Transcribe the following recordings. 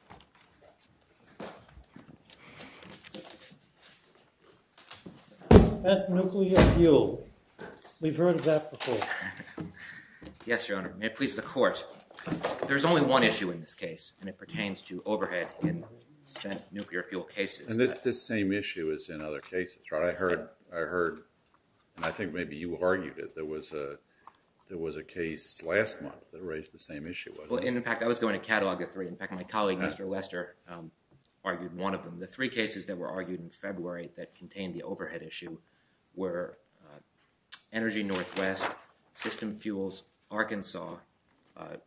Senator Mike Brammer Spent nuclear fuel. We've heard that before. Yes, Your Honor. May it please the Court. There's only one issue in this case, and it pertains to overhead in spent nuclear fuel cases. And it's the same issue as in other cases, right? I heard, and I think maybe you argued it, there was a case last month that raised the same issue, wasn't it? Well, in fact, I was going to catalog the three. In fact, my colleague, Mr. Lester, argued one of them. The three cases that were argued in February that contained the overhead issue were Energy Northwest, System Fuels Arkansas,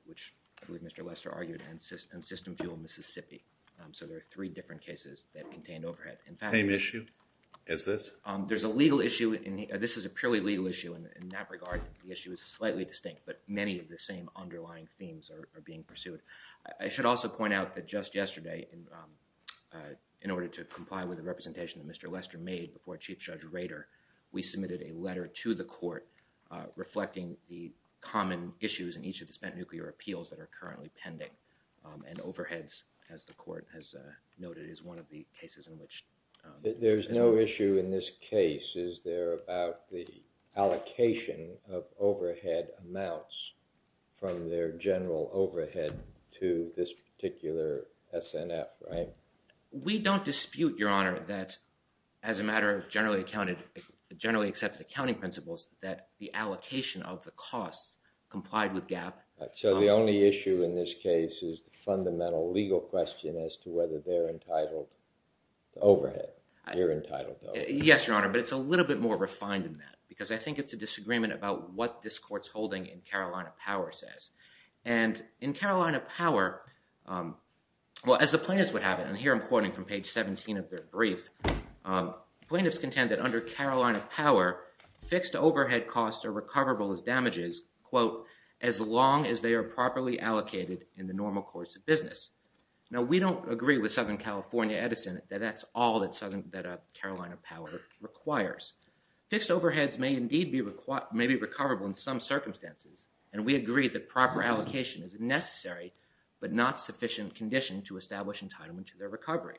which I believe Mr. Lester argued, and System Fuels Mississippi. So there are three different cases that contain overhead. Same issue as this? There's a legal issue. This is a purely legal issue. In that regard, the issue is slightly distinct, but many of the same underlying themes are being pursued. I should also point out that just yesterday, in order to comply with the representation that Mr. Lester made before Chief Judge Rader, we submitted a letter to the Court reflecting the common issues in each of the spent nuclear appeals that are currently pending. And overheads, as the Court has noted, is one of the cases in which... We don't dispute, Your Honor, that as a matter of generally accepted accounting principles, that the allocation of the costs complied with GAAP... So the only issue in this case is the fundamental legal question as to whether they're entitled to overhead. You're entitled to overhead. Yes, Your Honor, but it's a little bit more refined than that because I think it's a disagreement about what this Court's holding in Carolina Power says. And in Carolina Power, well, as the plaintiffs would have it, and here I'm quoting from page 17 of their brief, plaintiffs contend that under Carolina Power, fixed overhead costs are recoverable as damages, quote, as long as they are properly allocated in the normal course of business. Now, we don't agree with Southern California Edison that that's all that Carolina Power requires. Fixed overheads may indeed be recoverable in some circumstances, and we agree that proper allocation is a necessary but not sufficient condition to establish entitlement to their recovery.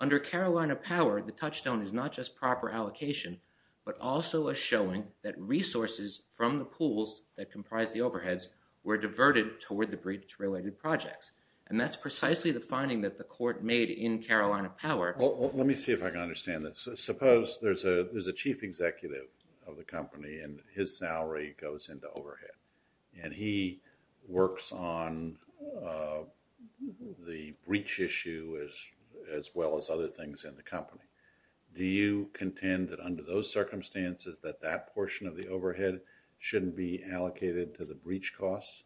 Under Carolina Power, the touchstone is not just proper allocation, but also a showing that resources from the pools that comprise the overheads were diverted toward the breach-related projects. And that's precisely the finding that the Court made in Carolina Power... Because there's a chief executive of the company and his salary goes into overhead, and he works on the breach issue as well as other things in the company. Do you contend that under those circumstances that that portion of the overhead shouldn't be allocated to the breach costs?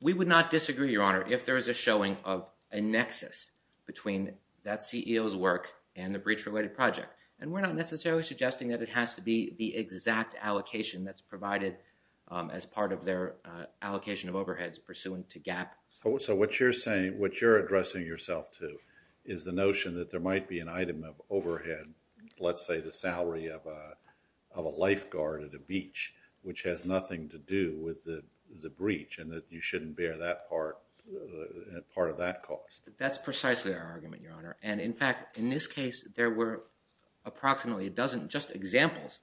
We would not disagree, Your Honor, if there is a showing of a nexus between that CEO's work and the breach-related project. And we're not necessarily suggesting that it has to be the exact allocation that's provided as part of their allocation of overheads pursuant to GAAP. So what you're saying... what you're addressing yourself to is the notion that there might be an item of overhead, let's say the salary of a lifeguard at a beach, which has nothing to do with the breach, and that you shouldn't bear that part of that cost. That's precisely our argument, Your Honor. And in fact, in this case, there were approximately a dozen just examples,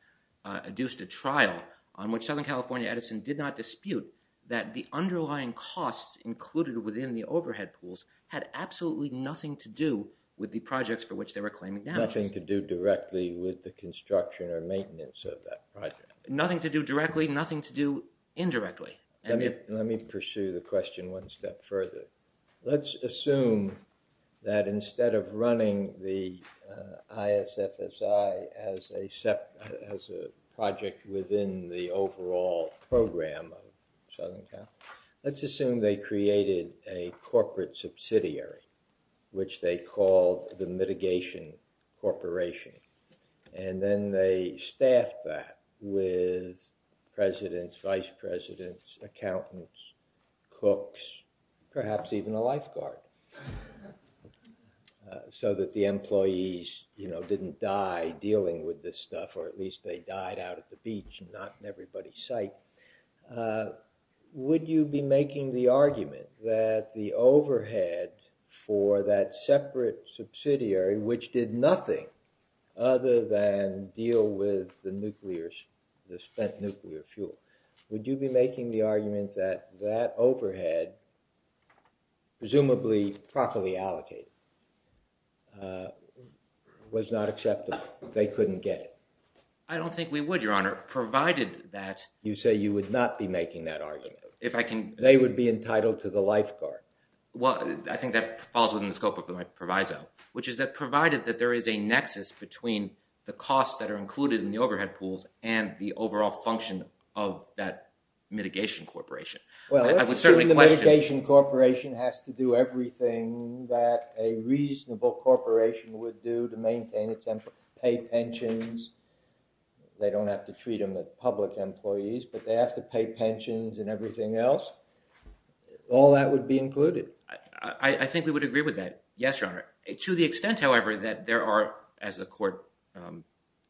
adduced at trial, on which Southern California Edison did not dispute that the underlying costs included within the overhead pools had absolutely nothing to do with the projects for which they were claiming damages. Nothing to do directly with the construction or maintenance of that project. Nothing to do directly, nothing to do indirectly. Let me pursue the question one step further. Let's assume that instead of running the ISFSI as a project within the overall program of Southern California, let's assume they created a corporate subsidiary, which they called the Mitigation Corporation. And then they staffed that with presidents, vice presidents, accountants, cooks, perhaps even a lifeguard, so that the employees, you know, didn't die dealing with this stuff, or at least they died out at the beach, not in everybody's sight. Would you be making the argument that the overhead for that separate subsidiary, which did nothing other than deal with the spent nuclear fuel, would you be making the argument that that overhead, presumably properly allocated, was not acceptable? They couldn't get it? I don't think we would, Your Honor, provided that... You say you would not be making that argument. If I can... They would be entitled to the lifeguard. Well, I think that falls within the scope of my proviso, which is that provided that there is a nexus between the costs that are included in the overhead pools and the overall function of that Mitigation Corporation, I would certainly question... Well, let's assume the Mitigation Corporation has to do everything that a reasonable corporation would do to maintain its employees, pay pensions. They don't have to treat them as public employees, but they have to pay pensions and everything else. All that would be included. I think we would agree with that. Yes, Your Honor. To the extent, however, that there are, as the Court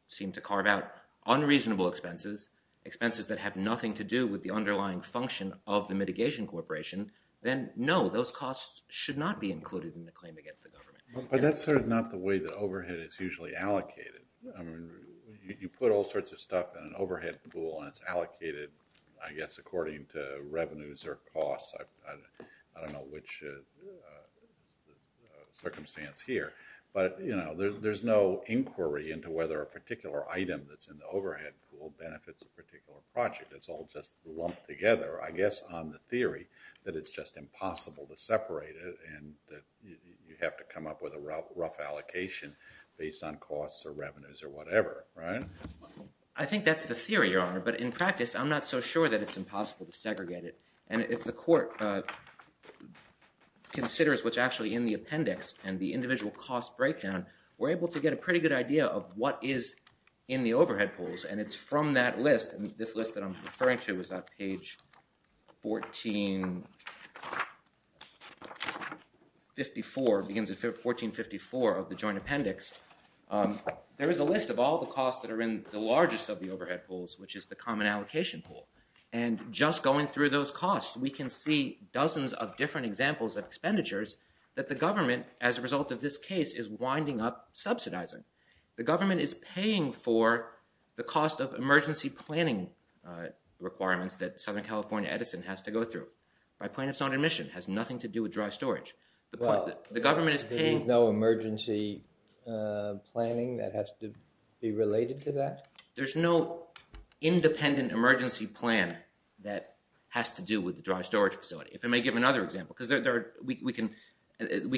seemed to carve out, unreasonable expenses, expenses that have nothing to do with the underlying function of the Mitigation Corporation, then no, those costs should not be included in the claim against the government. But that's sort of not the way that overhead is usually allocated. You put all sorts of costs associated, I guess, according to revenues or costs. I don't know which circumstance here. But, you know, there's no inquiry into whether a particular item that's in the overhead pool benefits a particular project. It's all just lumped together, I guess, on the theory that it's just impossible to separate it and that you have to come up with a rough allocation based on costs or revenues or whatever, right? I think that's the theory, Your Honor. But in practice, I'm not so sure that it's impossible to segregate it. And if the Court considers what's actually in the appendix and the individual cost breakdown, we're able to get a pretty good idea of what is in the overhead pools. And it's from that list, and this list that I'm referring to is on page 1454, it begins with all the costs that are in the largest of the overhead pools, which is the common allocation pool. And just going through those costs, we can see dozens of different examples of expenditures that the government, as a result of this case, is winding up subsidizing. The government is paying for the cost of emergency planning requirements that Southern California Edison has to go through by plaintiffs on admission. It has nothing to do with dry storage. There is no emergency planning that has to be related to that? There's no independent emergency plan that has to do with the dry storage facility. If I may give another example, because we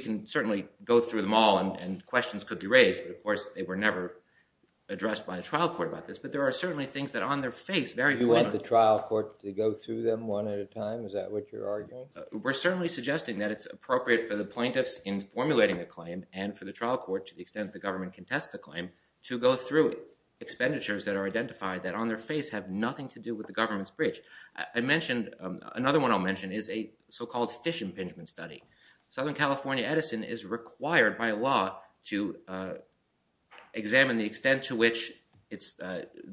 can certainly go through them all and questions could be raised, but of course they were never addressed by the trial court about this. But there are certainly things that on their face vary. You want the trial court to go through them one at a time? Is that what you're arguing? We're certainly suggesting that it's appropriate for the plaintiffs in formulating a claim and for the trial court, to the extent the government can test the claim, to go through expenditures that are identified that on their face have nothing to do with the government's bridge. Another one I'll mention is a so-called fish impingement study. Southern California Edison is required by law to examine the extent to which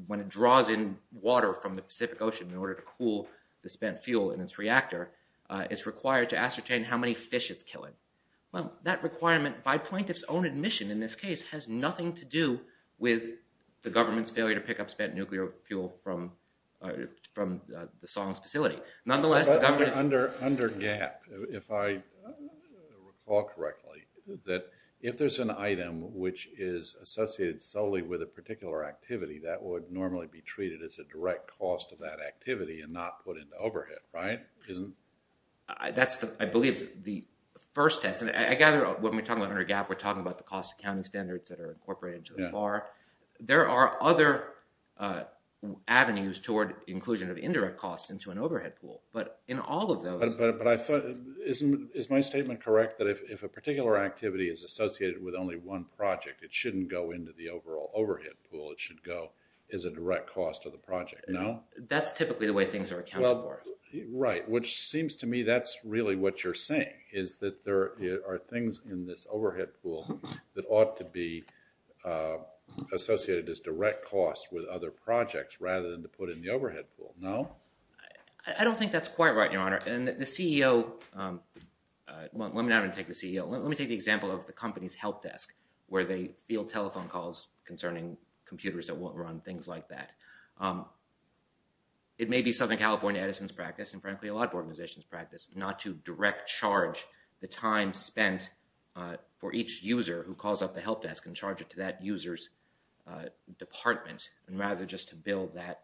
when it draws in water from the Pacific Ocean in order to cool the spent fuel in its reactor, it's required to ascertain how many fish it's killing. Well, that requirement by plaintiff's own admission in this case has nothing to do with the government's failure to pick up spent nuclear fuel from the Song's facility. Nonetheless, the government is... Under GAAP, if I recall correctly, that if there's an item which is associated solely with a particular activity, that would normally be treated as a direct cost of that activity and not put into overhead, right? Isn't it? That's, I believe, the first test. And I gather when we're talking about under GAAP, we're talking about the cost accounting standards that are incorporated into the bar. There are other avenues toward inclusion of indirect costs into an overhead pool. But in all of those... But I thought, is my statement correct that if a particular activity is associated with only one project, it shouldn't go into the overall overhead pool. It should go as a direct cost of the project, no? That's typically the way things are accounted for. Well, right. Which seems to me that's really what you're saying, is that there are things in this overhead pool that ought to be associated as direct costs with other projects rather than to put in the overhead pool, no? I don't think that's quite right, Your Honor. And the CEO... Well, let me not even take the CEO. Let me take the example of the company's help desk, where they field telephone calls concerning computers that won't run, things like that. It may be Southern California Edison's practice, and frankly, a lot of organizations' practice, not to direct charge the time spent for each user who calls up the help desk and charge it to that user's department, and rather just to bill that,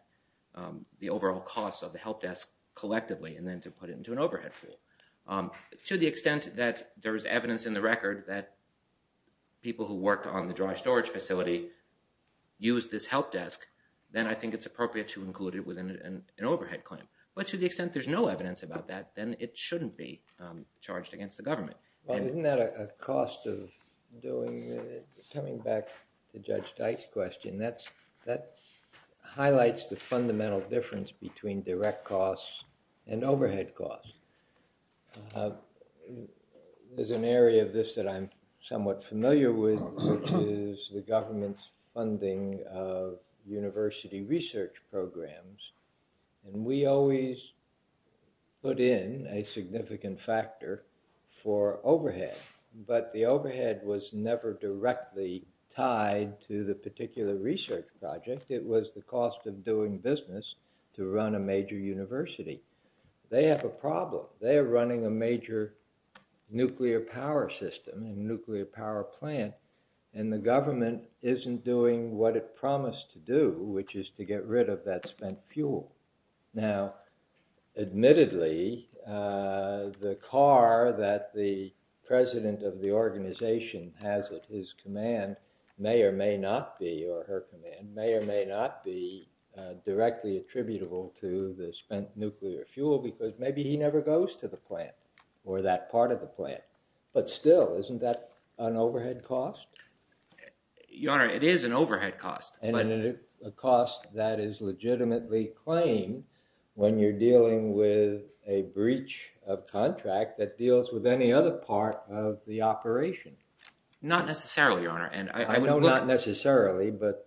the overall cost of the help desk collectively, and then to put it into an overhead pool. To the extent that there's evidence in the record that people who worked on the dry storage facility used this help desk, then I think it's appropriate to include it within an overhead claim. But to the extent there's no evidence about that, then it shouldn't be charged against the government. Well, isn't that a cost of doing... Coming back to Judge Dyke's question, that highlights the fundamental difference between direct costs and overhead costs. There's an area of this that I'm somewhat familiar with, which is the government's funding of university research programs, and we always put in a significant factor for overhead, but the overhead was never directly tied to the particular research project. It was the cost of doing business to run a major university. They have a problem. They are running a major nuclear power system and nuclear power plant, and the government isn't doing what it promised to do, which is to get rid of that spent fuel. Now, admittedly, the car that the president of the organization has at his command may or may not be, or her command, may or may not be directly attributable to the spent nuclear fuel because maybe he never goes to the plant or that part of the plant. But still, isn't that an overhead cost? Your Honor, it is an overhead cost. And it is a cost that is legitimately claimed when you're dealing with a breach of contract that deals with any other part of the operation. Not necessarily, Your Honor. I know not necessarily, but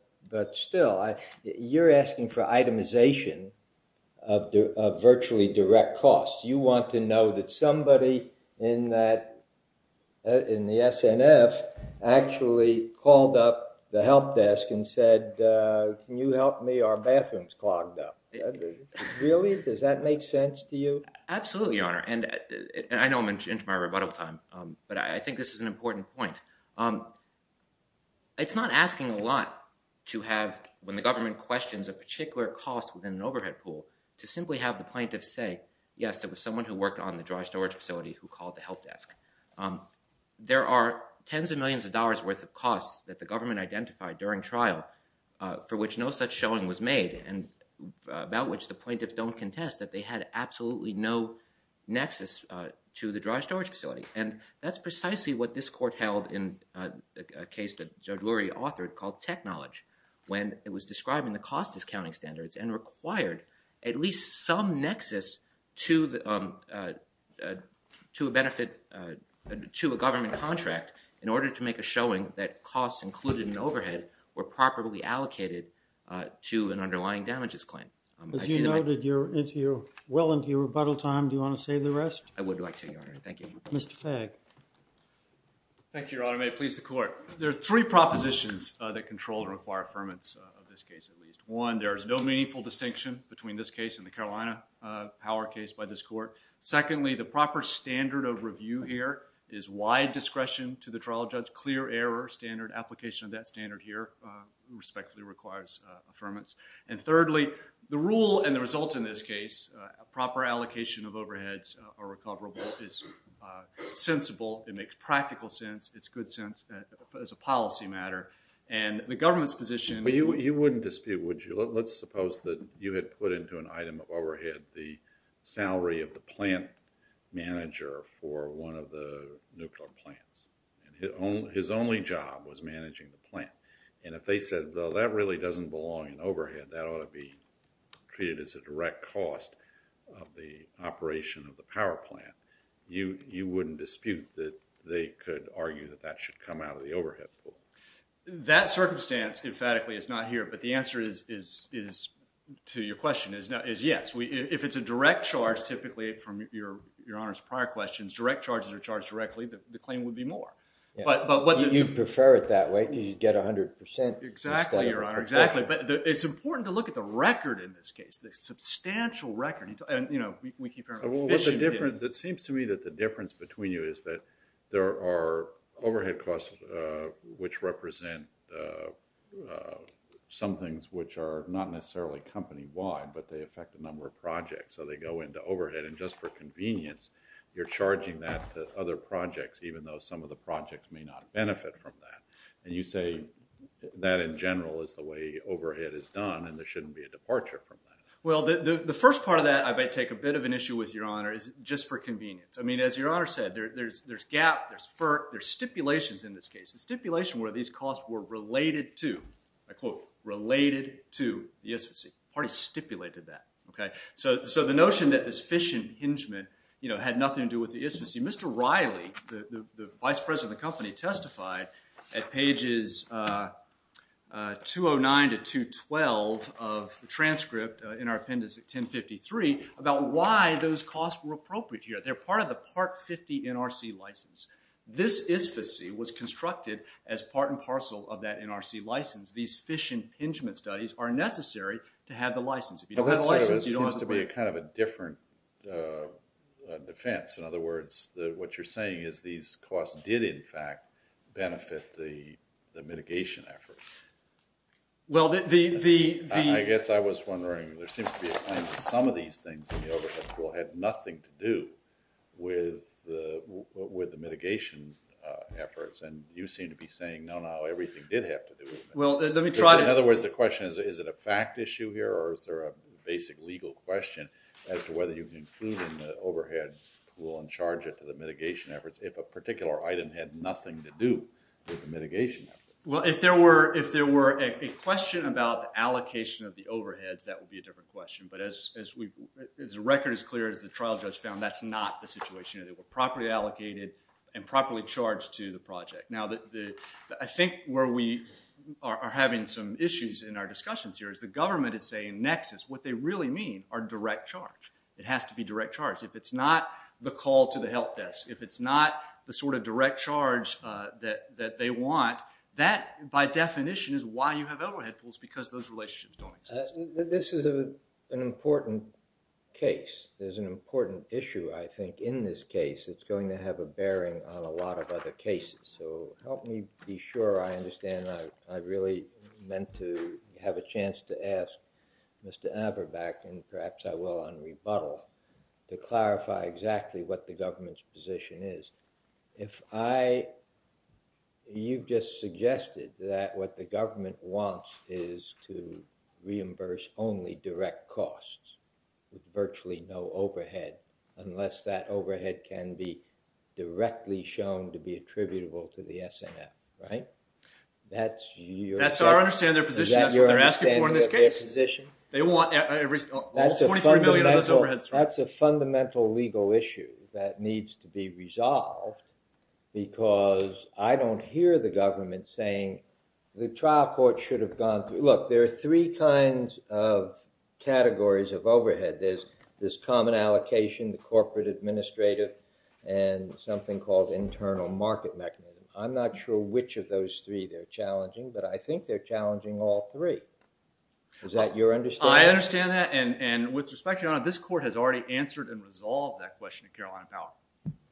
still, you're asking for itemization of virtually direct costs. You want to know that somebody in the SNF actually called up the help desk and said, can you help me? Our bathroom's clogged up. Really? Does that make sense to you? Absolutely, Your Honor. And I know I'm into my rebuttal time, but I think this is an important point. It's not asking a lot to have, when the government questions a particular cost within an overhead pool, to simply have the plaintiff say, yes, there was someone who worked on the dry storage facility who called the help desk. There are tens of millions of dollars worth of costs that the government identified during the trial for which no such showing was made, and about which the plaintiffs don't contest that they had absolutely no nexus to the dry storage facility. And that's precisely what this court held in a case that Judge Lurie authored called tech knowledge, when it was describing the cost discounting standards and required at least some nexus to a government contract in order to make a showing that costs included in overhead were properly allocated to an underlying damages claim. As you noted, you're well into your rebuttal time. Do you want to say the rest? I would like to, Your Honor. Thank you. Mr. Fagg. Thank you, Your Honor. May it please the court. There are three propositions that control and require affirmance of this case, at least. One, there is no meaningful distinction between this case and the Carolina Power case by this discretion to the trial judge. Clear error standard, application of that standard here respectfully requires affirmance. And thirdly, the rule and the result in this case, a proper allocation of overheads or recoverable, is sensible. It makes practical sense. It's good sense as a policy matter. And the government's position- Well, you wouldn't dispute, would you? Let's suppose that you had put into an item of overhead the salary of the plant manager for one of the nuclear plants. And his only job was managing the plant. And if they said, well, that really doesn't belong in overhead, that ought to be treated as a direct cost of the operation of the power plant, you wouldn't dispute that they could argue that that should come out of the overhead pool. That circumstance, emphatically, is not here. But the answer is, to your question, is yes. If it's a direct charge, typically, from your Honor's prior questions, direct charges are charged directly, the claim would be more. But what the- You prefer it that way because you'd get 100% instead of- Exactly, Your Honor, exactly. But it's important to look at the record in this case, the substantial record. And we keep hearing about fishing. That seems to me that the difference between you is that there are overhead costs which represent some things which are not necessarily company-wide, but they affect the number of projects. So they go into overhead. And just for convenience, you're charging that to other projects even though some of the projects may not benefit from that. And you say that in general is the way overhead is done and there shouldn't be a departure from that. Well, the first part of that, I might take a bit of an issue with, Your Honor, is just for convenience. I mean, as Your Honor said, there's gap, there's FERC, there's stipulations in this case. The stipulation where these costs were related to, I quote, related to the ISFCCI. The party stipulated that, okay? So the notion that this fishing hingement, you know, had nothing to do with the ISFCCI. Mr. Riley, the vice president of the company, testified at pages 209 to 212 of the transcript in our appendix at 1053 about why those costs were appropriate here. They're part of the Part 50 NRC license. This ISFCCI was constructed as part and parcel of that NRC license. These fishing hingement studies are necessary to have the license. If you don't have the license, you don't have the permit. But that sort of seems to be a kind of a different defense. In other words, what you're saying is these costs did, in fact, benefit the mitigation efforts. Well, the, the, the... I guess I was wondering, there seems to be a claim that some of these things in the overhead pool had nothing to do with the, with the mitigation efforts. And you seem to be saying, no, no, everything did have to do with that. Well, let me try to... In other words, the question is, is it a fact issue here, or is there a basic legal question as to whether you can include in the overhead pool and charge it to the mitigation efforts if a particular item had nothing to do with the mitigation efforts? Well, if there were, if there were a question about the allocation of the overheads, that would be a different question. But as, as we've, as the record is clear, as the trial judge found, that's not the situation. They were properly allocated and properly charged to the project. Now, the, the, I think where we are, are having some issues in our discussions here is the government is saying nexus, what they really mean are direct charge. It has to be direct charge. If it's not the call to the help desk, if it's not the sort of direct charge that, that they want, that by definition is why you have overhead pools, because those relationships don't exist. This is a, an important case. There's an important issue, I think, in this case. It's going to have a bearing on a lot of other cases. So help me be sure I understand. I, I really meant to have a chance to ask Mr. Aberbacke, and perhaps I will on rebuttal, to clarify exactly what the government's position is. If I, you've just suggested that what the government wants is to reimburse only direct costs, virtually no overhead, unless that overhead can be directly shown to be attributable to the SNF, right? That's your... That's our understanding of their position. That's what they're asking for in this case. They want every, almost $43 million of those overheads. That's a fundamental legal issue that needs to be resolved, because I don't hear the government saying the trial court should have gone through... Look, there are three kinds of categories of overhead. There's, there's common allocation, the corporate administrative, and something called internal market mechanism. I'm not sure which of those three they're challenging, but I think they're challenging all three. Is that your understanding? I understand that, and, and with respect, Your Honor, this court has already answered and resolved that question at Carolina Power.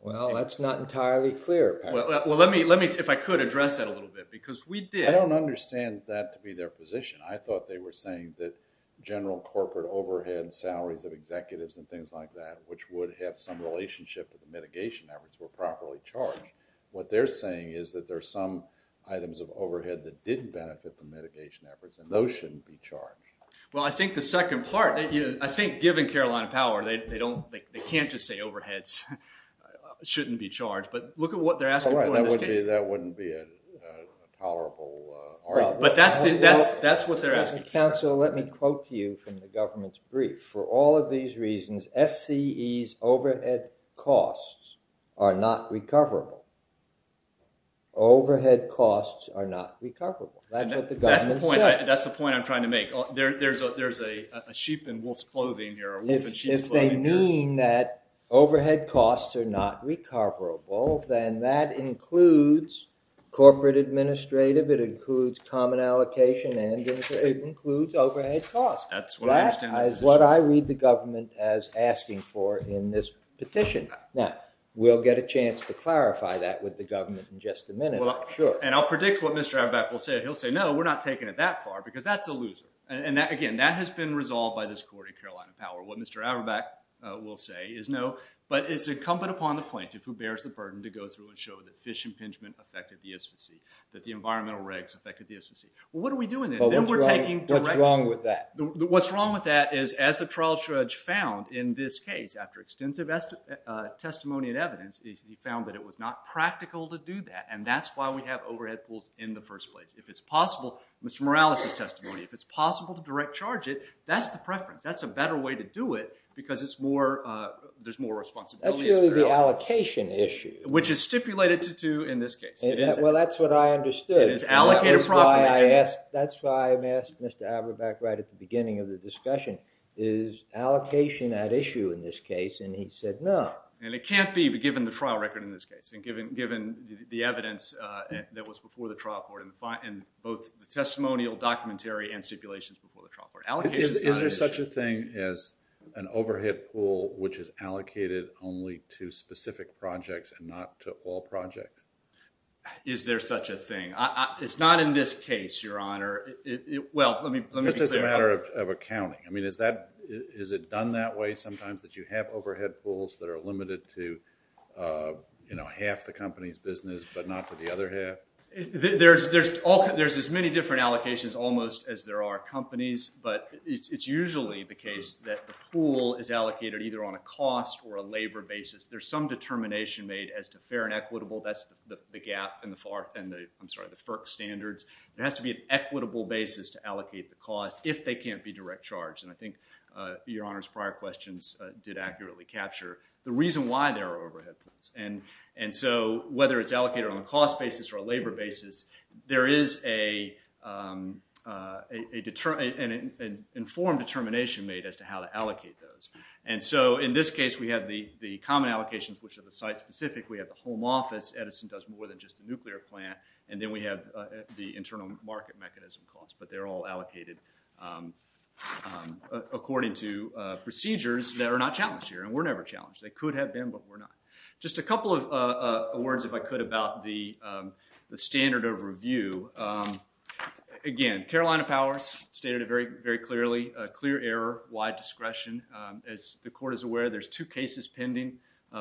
Well, that's not entirely clear. Well, let me, let me, if I could, address that a little bit, because we did... I don't understand that to be their position. I thought they were saying that general corporate overhead salaries of executives and things like that, which would have some relationship with the mitigation efforts, were properly charged. What they're saying is that there are some items of overhead that did benefit the mitigation efforts, and those shouldn't be charged. Well, I think the second part that you, I think given Carolina Power, they don't, they can't just say overheads shouldn't be charged, but look at what they're asking for in this case. All right, that wouldn't be, that wouldn't be a tolerable argument. But that's the, that's, that's what they're asking for. Counsel, let me quote to you from the government's brief. For all of these reasons, SCE's overhead costs are not recoverable. Overhead costs are not recoverable. That's what the government said. That's the point, that's the point I'm trying to make. There, there's a, there's a sheep in wolf's clothing here. If they mean that overhead costs are not recoverable, then that includes corporate administrative, it includes common allocation, and it includes overhead costs. That's what I understand. That is what I read the government as asking for in this petition. Now, we'll get a chance to clarify that with the government in just a minute, I'm sure. And I'll predict what Mr. Abback will say. He'll say, no, we're not taking it that far, because that's a loser. And that, again, that has been resolved by this court in Carolina Power. What Mr. Abback will say is, no, but it's incumbent upon the plaintiff who bears the burden to go through and show that fish impingement affected the SFC, that the environmental regs affected the SFC. Well, what are we doing then? Then we're taking direct— What's wrong with that? What's wrong with that is, as the trial judge found in this case, after extensive testimony and evidence, he found that it was not practical to do that. And that's why we have overhead pools in the first place. If it's possible, Mr. Morales' testimony, if it's possible to direct charge it, that's the preference. That's a better way to do it, because there's more responsibility. That's really the allocation issue. Which is stipulated to do in this case. Well, that's what I understood. It is allocated property. That's why I asked Mr. Abback right at the beginning of the discussion, is allocation at issue in this case? And he said, no. And it can't be, given the trial record in this case, and given the evidence that was before the trial court, and both the testimonial, documentary, and stipulations before the trial court. Is there such a thing as an overhead pool which is allocated only to specific projects and not to all projects? Is there such a thing? It's not in this case, Your Honor. Well, let me be clear. Just as a matter of accounting. I mean, is it done that way sometimes, that you have overhead pools that are limited to, you know, half the company's business, but not to the other half? There's as many different allocations almost as there are companies. But it's usually the case that the pool is allocated either on a cost or a labor basis. There's some determination made as to fair and equitable. That's the gap in the FERC standards. It has to be an equitable basis to allocate the cost if they can't be direct charged. And I think Your Honor's prior questions did accurately capture the reason why there are overhead pools. And so whether it's allocated on a cost basis or a labor basis, there is an informed determination made as to how to allocate those. And so in this case, we have the common allocations, which are the site-specific. We have the home office. Edison does more than just the nuclear plant. And then we have the internal market mechanism costs. But they're all allocated according to procedures that are not challenged here. And we're never challenged. They could have been, but we're not. Just a couple of words, if I could, about the standard of review. Again, Carolina Powers stated it very clearly. Clear error, wide discretion. As the court is aware, there's two cases pending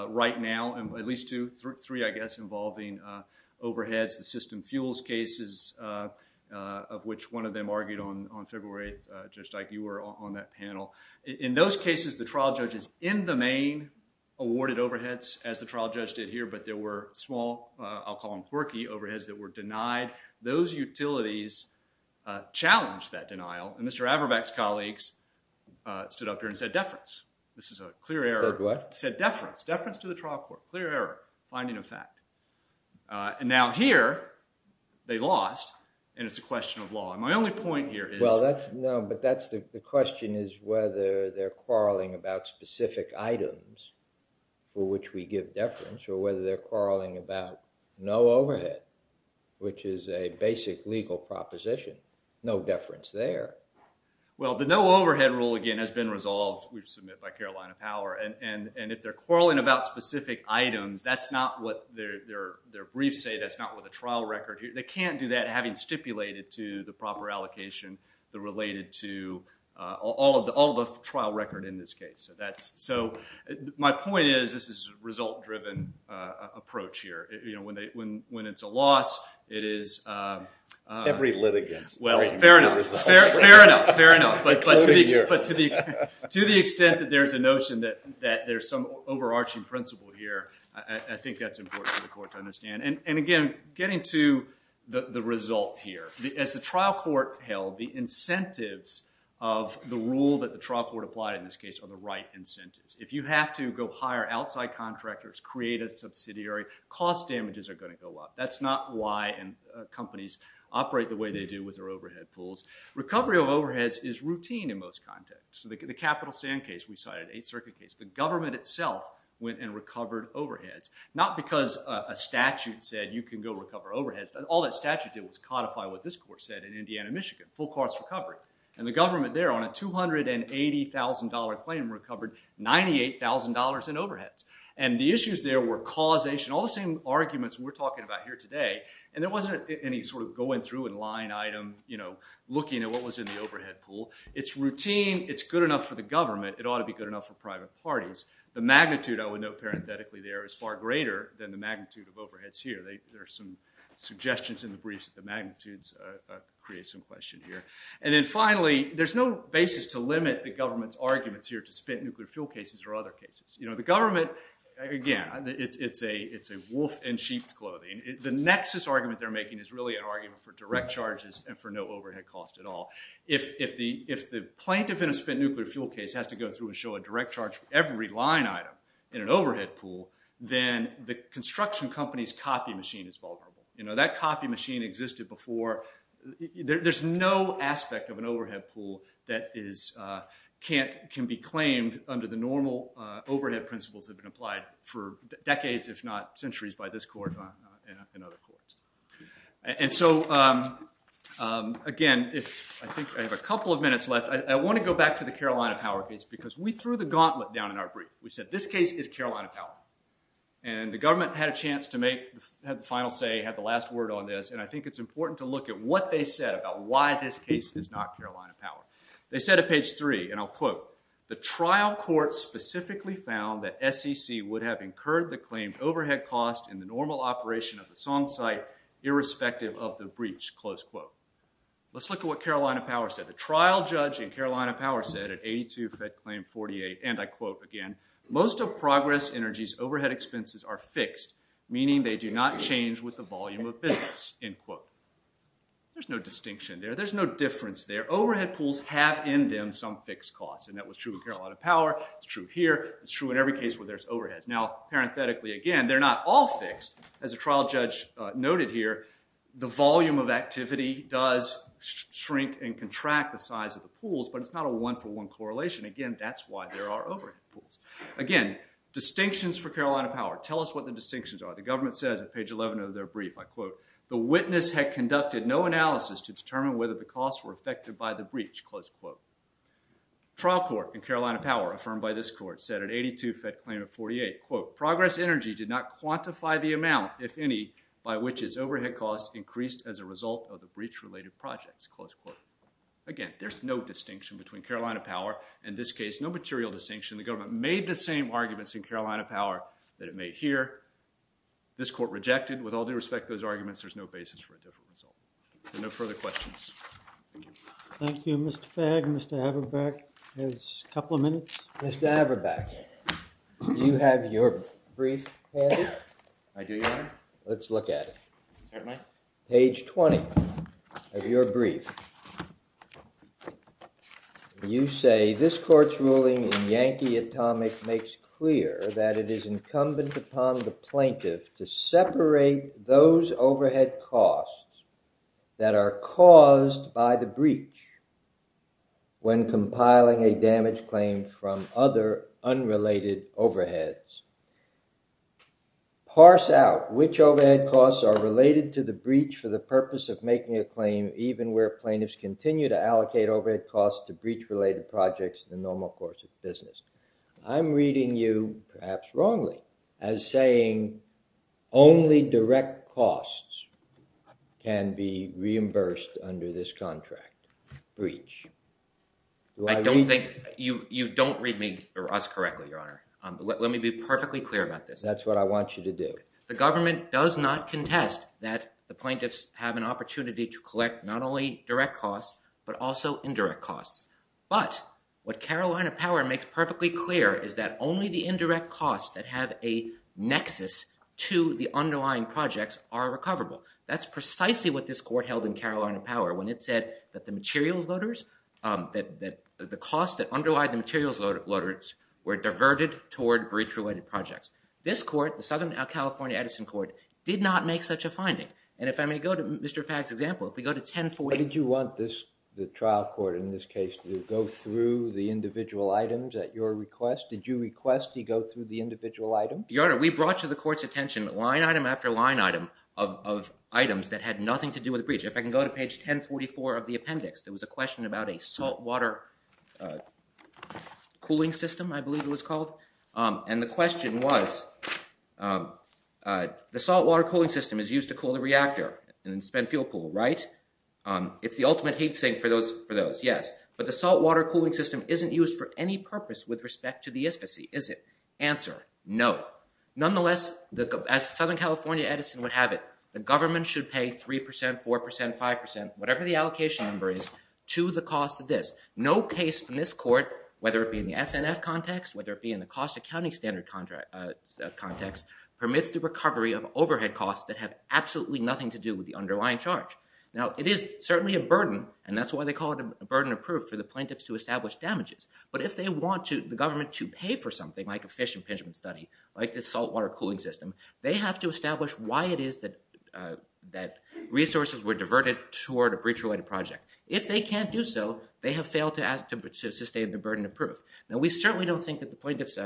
right now, at least two. Three, I guess, involving overheads. The system fuels cases, of which one of them argued on February 8th, just like you were on that panel. In those cases, the trial judge is in the main awarded overheads, as the trial judge did here. But there were small, I'll call them quirky, overheads that were denied. Those utilities challenged that denial. And Mr. Averbach's colleagues stood up here and said deference. This is a clear error. Said what? Said deference. Deference to the trial court. Clear error. Finding of fact. And now here, they lost, and it's a question of law. And my only point here is— No, but the question is whether they're quarreling about specific items, for which we give deference, or whether they're quarreling about no overhead, which is a basic legal proposition. No deference there. Well, the no overhead rule, again, has been resolved, which was submitted by Carolina Power. And if they're quarreling about specific items, that's not what their briefs say. That's not what the trial record— they can't do that having stipulated to the proper allocation that related to all of the trial record in this case. So my point is, this is a result-driven approach here. When it's a loss, it is— Every litigant. Well, fair enough. Fair enough. Fair enough. But to the extent that there's a notion that there's some overarching principle here, I think that's important for the court to understand. And again, getting to the result here, as the trial court held, the incentives of the rule that the trial court applied in this case are the right incentives. If you have to go hire outside contractors, create a subsidiary, cost damages are going to go up. That's not why companies operate the way they do with their overhead pools. Recovery of overheads is routine in most contexts. So the Capital Sand case we cited, Eighth Circuit case, the government itself went and recovered overheads. Not because a statute said you can go recover overheads. All that statute did was codify what this court said in Indiana, Michigan. Full cost recovery. And the government there, on a $280,000 claim, recovered $98,000 in overheads. And the issues there were causation. All the same arguments we're talking about here today. And there wasn't any sort of going through and line item, you know, looking at what was in the overhead pool. It's routine. It's good enough for the government. It ought to be good enough for private parties. The magnitude, I would note parenthetically there, is far greater than the magnitude of overheads here. There are some suggestions in the briefs that the magnitudes create some question here. And then finally, there's no basis to limit the government's arguments here to spent nuclear fuel cases or other cases. You know, the government, again, it's a wolf in sheep's clothing. The nexus argument they're making is really an argument for direct charges and for no overhead cost at all. If the plaintiff in a spent nuclear fuel case has to go through and show a direct charge for every line item in an overhead pool, then the construction company's copy machine is vulnerable. You know, that copy machine existed before. There's no aspect of an overhead pool that can be claimed under the normal overhead principles that have been applied for decades, if not centuries, by this court and other courts. And so again, I think I have a couple of minutes left. I want to go back to the Carolina Power case, because we threw the gauntlet down in our brief. We said, this case is Carolina Power. And the government had a chance to make the final say, had the last word on this. And I think it's important to look at what they said about why this case is not Carolina Power. They said at page 3, and I'll quote, the trial court specifically found that SEC would have incurred the claim overhead cost in the normal operation of the song site, irrespective of the breach, close quote. Let's look at what Carolina Power said. The trial judge in Carolina Power said at 82, Fed Claim 48, and I quote again, most of Progress Energy's overhead expenses are fixed, meaning they do not change with the volume of business, end quote. There's no distinction there. There's no difference there. Overhead pools have in them some fixed costs. And that was true in Carolina Power. It's true here. It's true in every case where there's overheads. Now, parenthetically again, they're not all fixed. As a trial judge noted here, the volume of activity does shrink and contract the size of the pools, but it's not a one-for-one correlation. Again, that's why there are overhead pools. Again, distinctions for Carolina Power. Tell us what the distinctions are. The government says at page 11 of their brief, I quote, the witness had conducted no analysis to determine whether the costs were affected by the breach, close quote. Trial court in Carolina Power, affirmed by this court, said at 82, Fed Claim 48, quote, Progress Energy did not quantify the amount, if any, by which its overhead costs increased as a result of the breach-related projects, close quote. Again, there's no distinction between Carolina Power. In this case, no material distinction. The government made the same arguments in Carolina Power that it made here. This court rejected. With all due respect to those arguments, there's no basis for a different result. So no further questions. Thank you. Thank you, Mr. Fagg. Mr. Averbeck has a couple of minutes. Mr. Averbeck, do you have your brief? I do, Your Honor. Let's look at it. Page 20 of your brief. You say, this court's ruling in Yankee Atomic makes clear that it is incumbent upon the plaintiff to separate those overhead costs that are caused by the breach when compiling a damage claim from other unrelated overheads. Parse out which overhead costs are related to the breach for the purpose of making a claim even where plaintiffs continue to allocate overhead costs to breach-related projects in the normal course of business. I'm reading you, perhaps wrongly, as saying only direct costs can be reimbursed under this contract breach. I don't think you don't read me or us correctly, Your Honor. Let me be perfectly clear about this. That's what I want you to do. The government does not contest that the plaintiffs have an opportunity to collect not only direct costs but also indirect costs. But what Carolina Power makes perfectly clear is that only the indirect costs that have a nexus to the underlying projects are recoverable. That's precisely what this court held in Carolina Power when it said that the materials loaders, that the costs that underlie the materials loaders were diverted toward breach-related projects. This court, the Southern California Edison Court, did not make such a finding. And if I may go to Mr. Fagg's example, if we go to 1040- Did you want the trial court in this case to go through the individual items at your request? Did you request he go through the individual items? Your Honor, we brought to the court's attention line item after line item of items that had nothing to do with the breach. If I can go to page 1044 of the appendix, there was a question about a saltwater cooling system, I believe it was called. And the question was, the saltwater cooling system is used to cool the reactor and then spend fuel pool, right? It's the ultimate heat sink for those, yes. But the saltwater cooling system isn't used for any purpose with respect to the ISPCA. Is it? Answer, no. Nonetheless, as Southern California Edison would have it, the government should pay 3%, 4%, 5%, whatever the allocation number is, to the cost of this. No case in this court, whether it be in the SNF context, whether it be in the cost accounting standard context, permits the recovery of overhead costs that have absolutely nothing to do with the underlying charge. Now, it is certainly a burden, and that's why they call it a burden of proof for the plaintiffs to establish damages. But if they want the government to pay for something like a fish impingement study, like this saltwater cooling system, they have to establish why it is that resources were diverted toward a breach-related project. If they can't do so, they have failed to sustain the burden of proof. Now, we certainly don't think that the plaintiffs,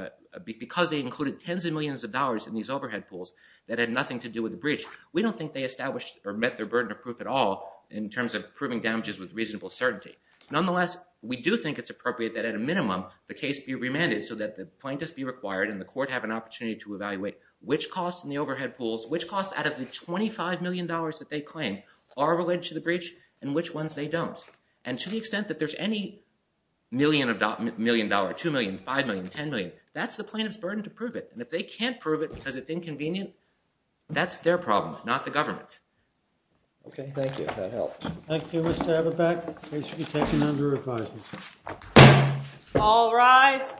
because they included tens of millions of dollars in these overhead pools that had nothing to do with the breach, we don't think they established or met their burden of proof at all in terms of proving damages with reasonable certainty. Nonetheless, we do think it's appropriate that, at a minimum, the case be remanded so that the plaintiffs be required and the court have an opportunity to evaluate which costs in the overhead pools, which costs out of the $25 million that they claim are related to the breach and which ones they don't. And to the extent that there's any million of dollars, $2 million, $5 million, $10 million, that's the plaintiff's burden to prove it. And if they can't prove it because it's inconvenient, that's their problem, not the government's. Okay, thank you. That helps. Thank you, Mr. Haberbach. Case will be taken under advisement. All rise.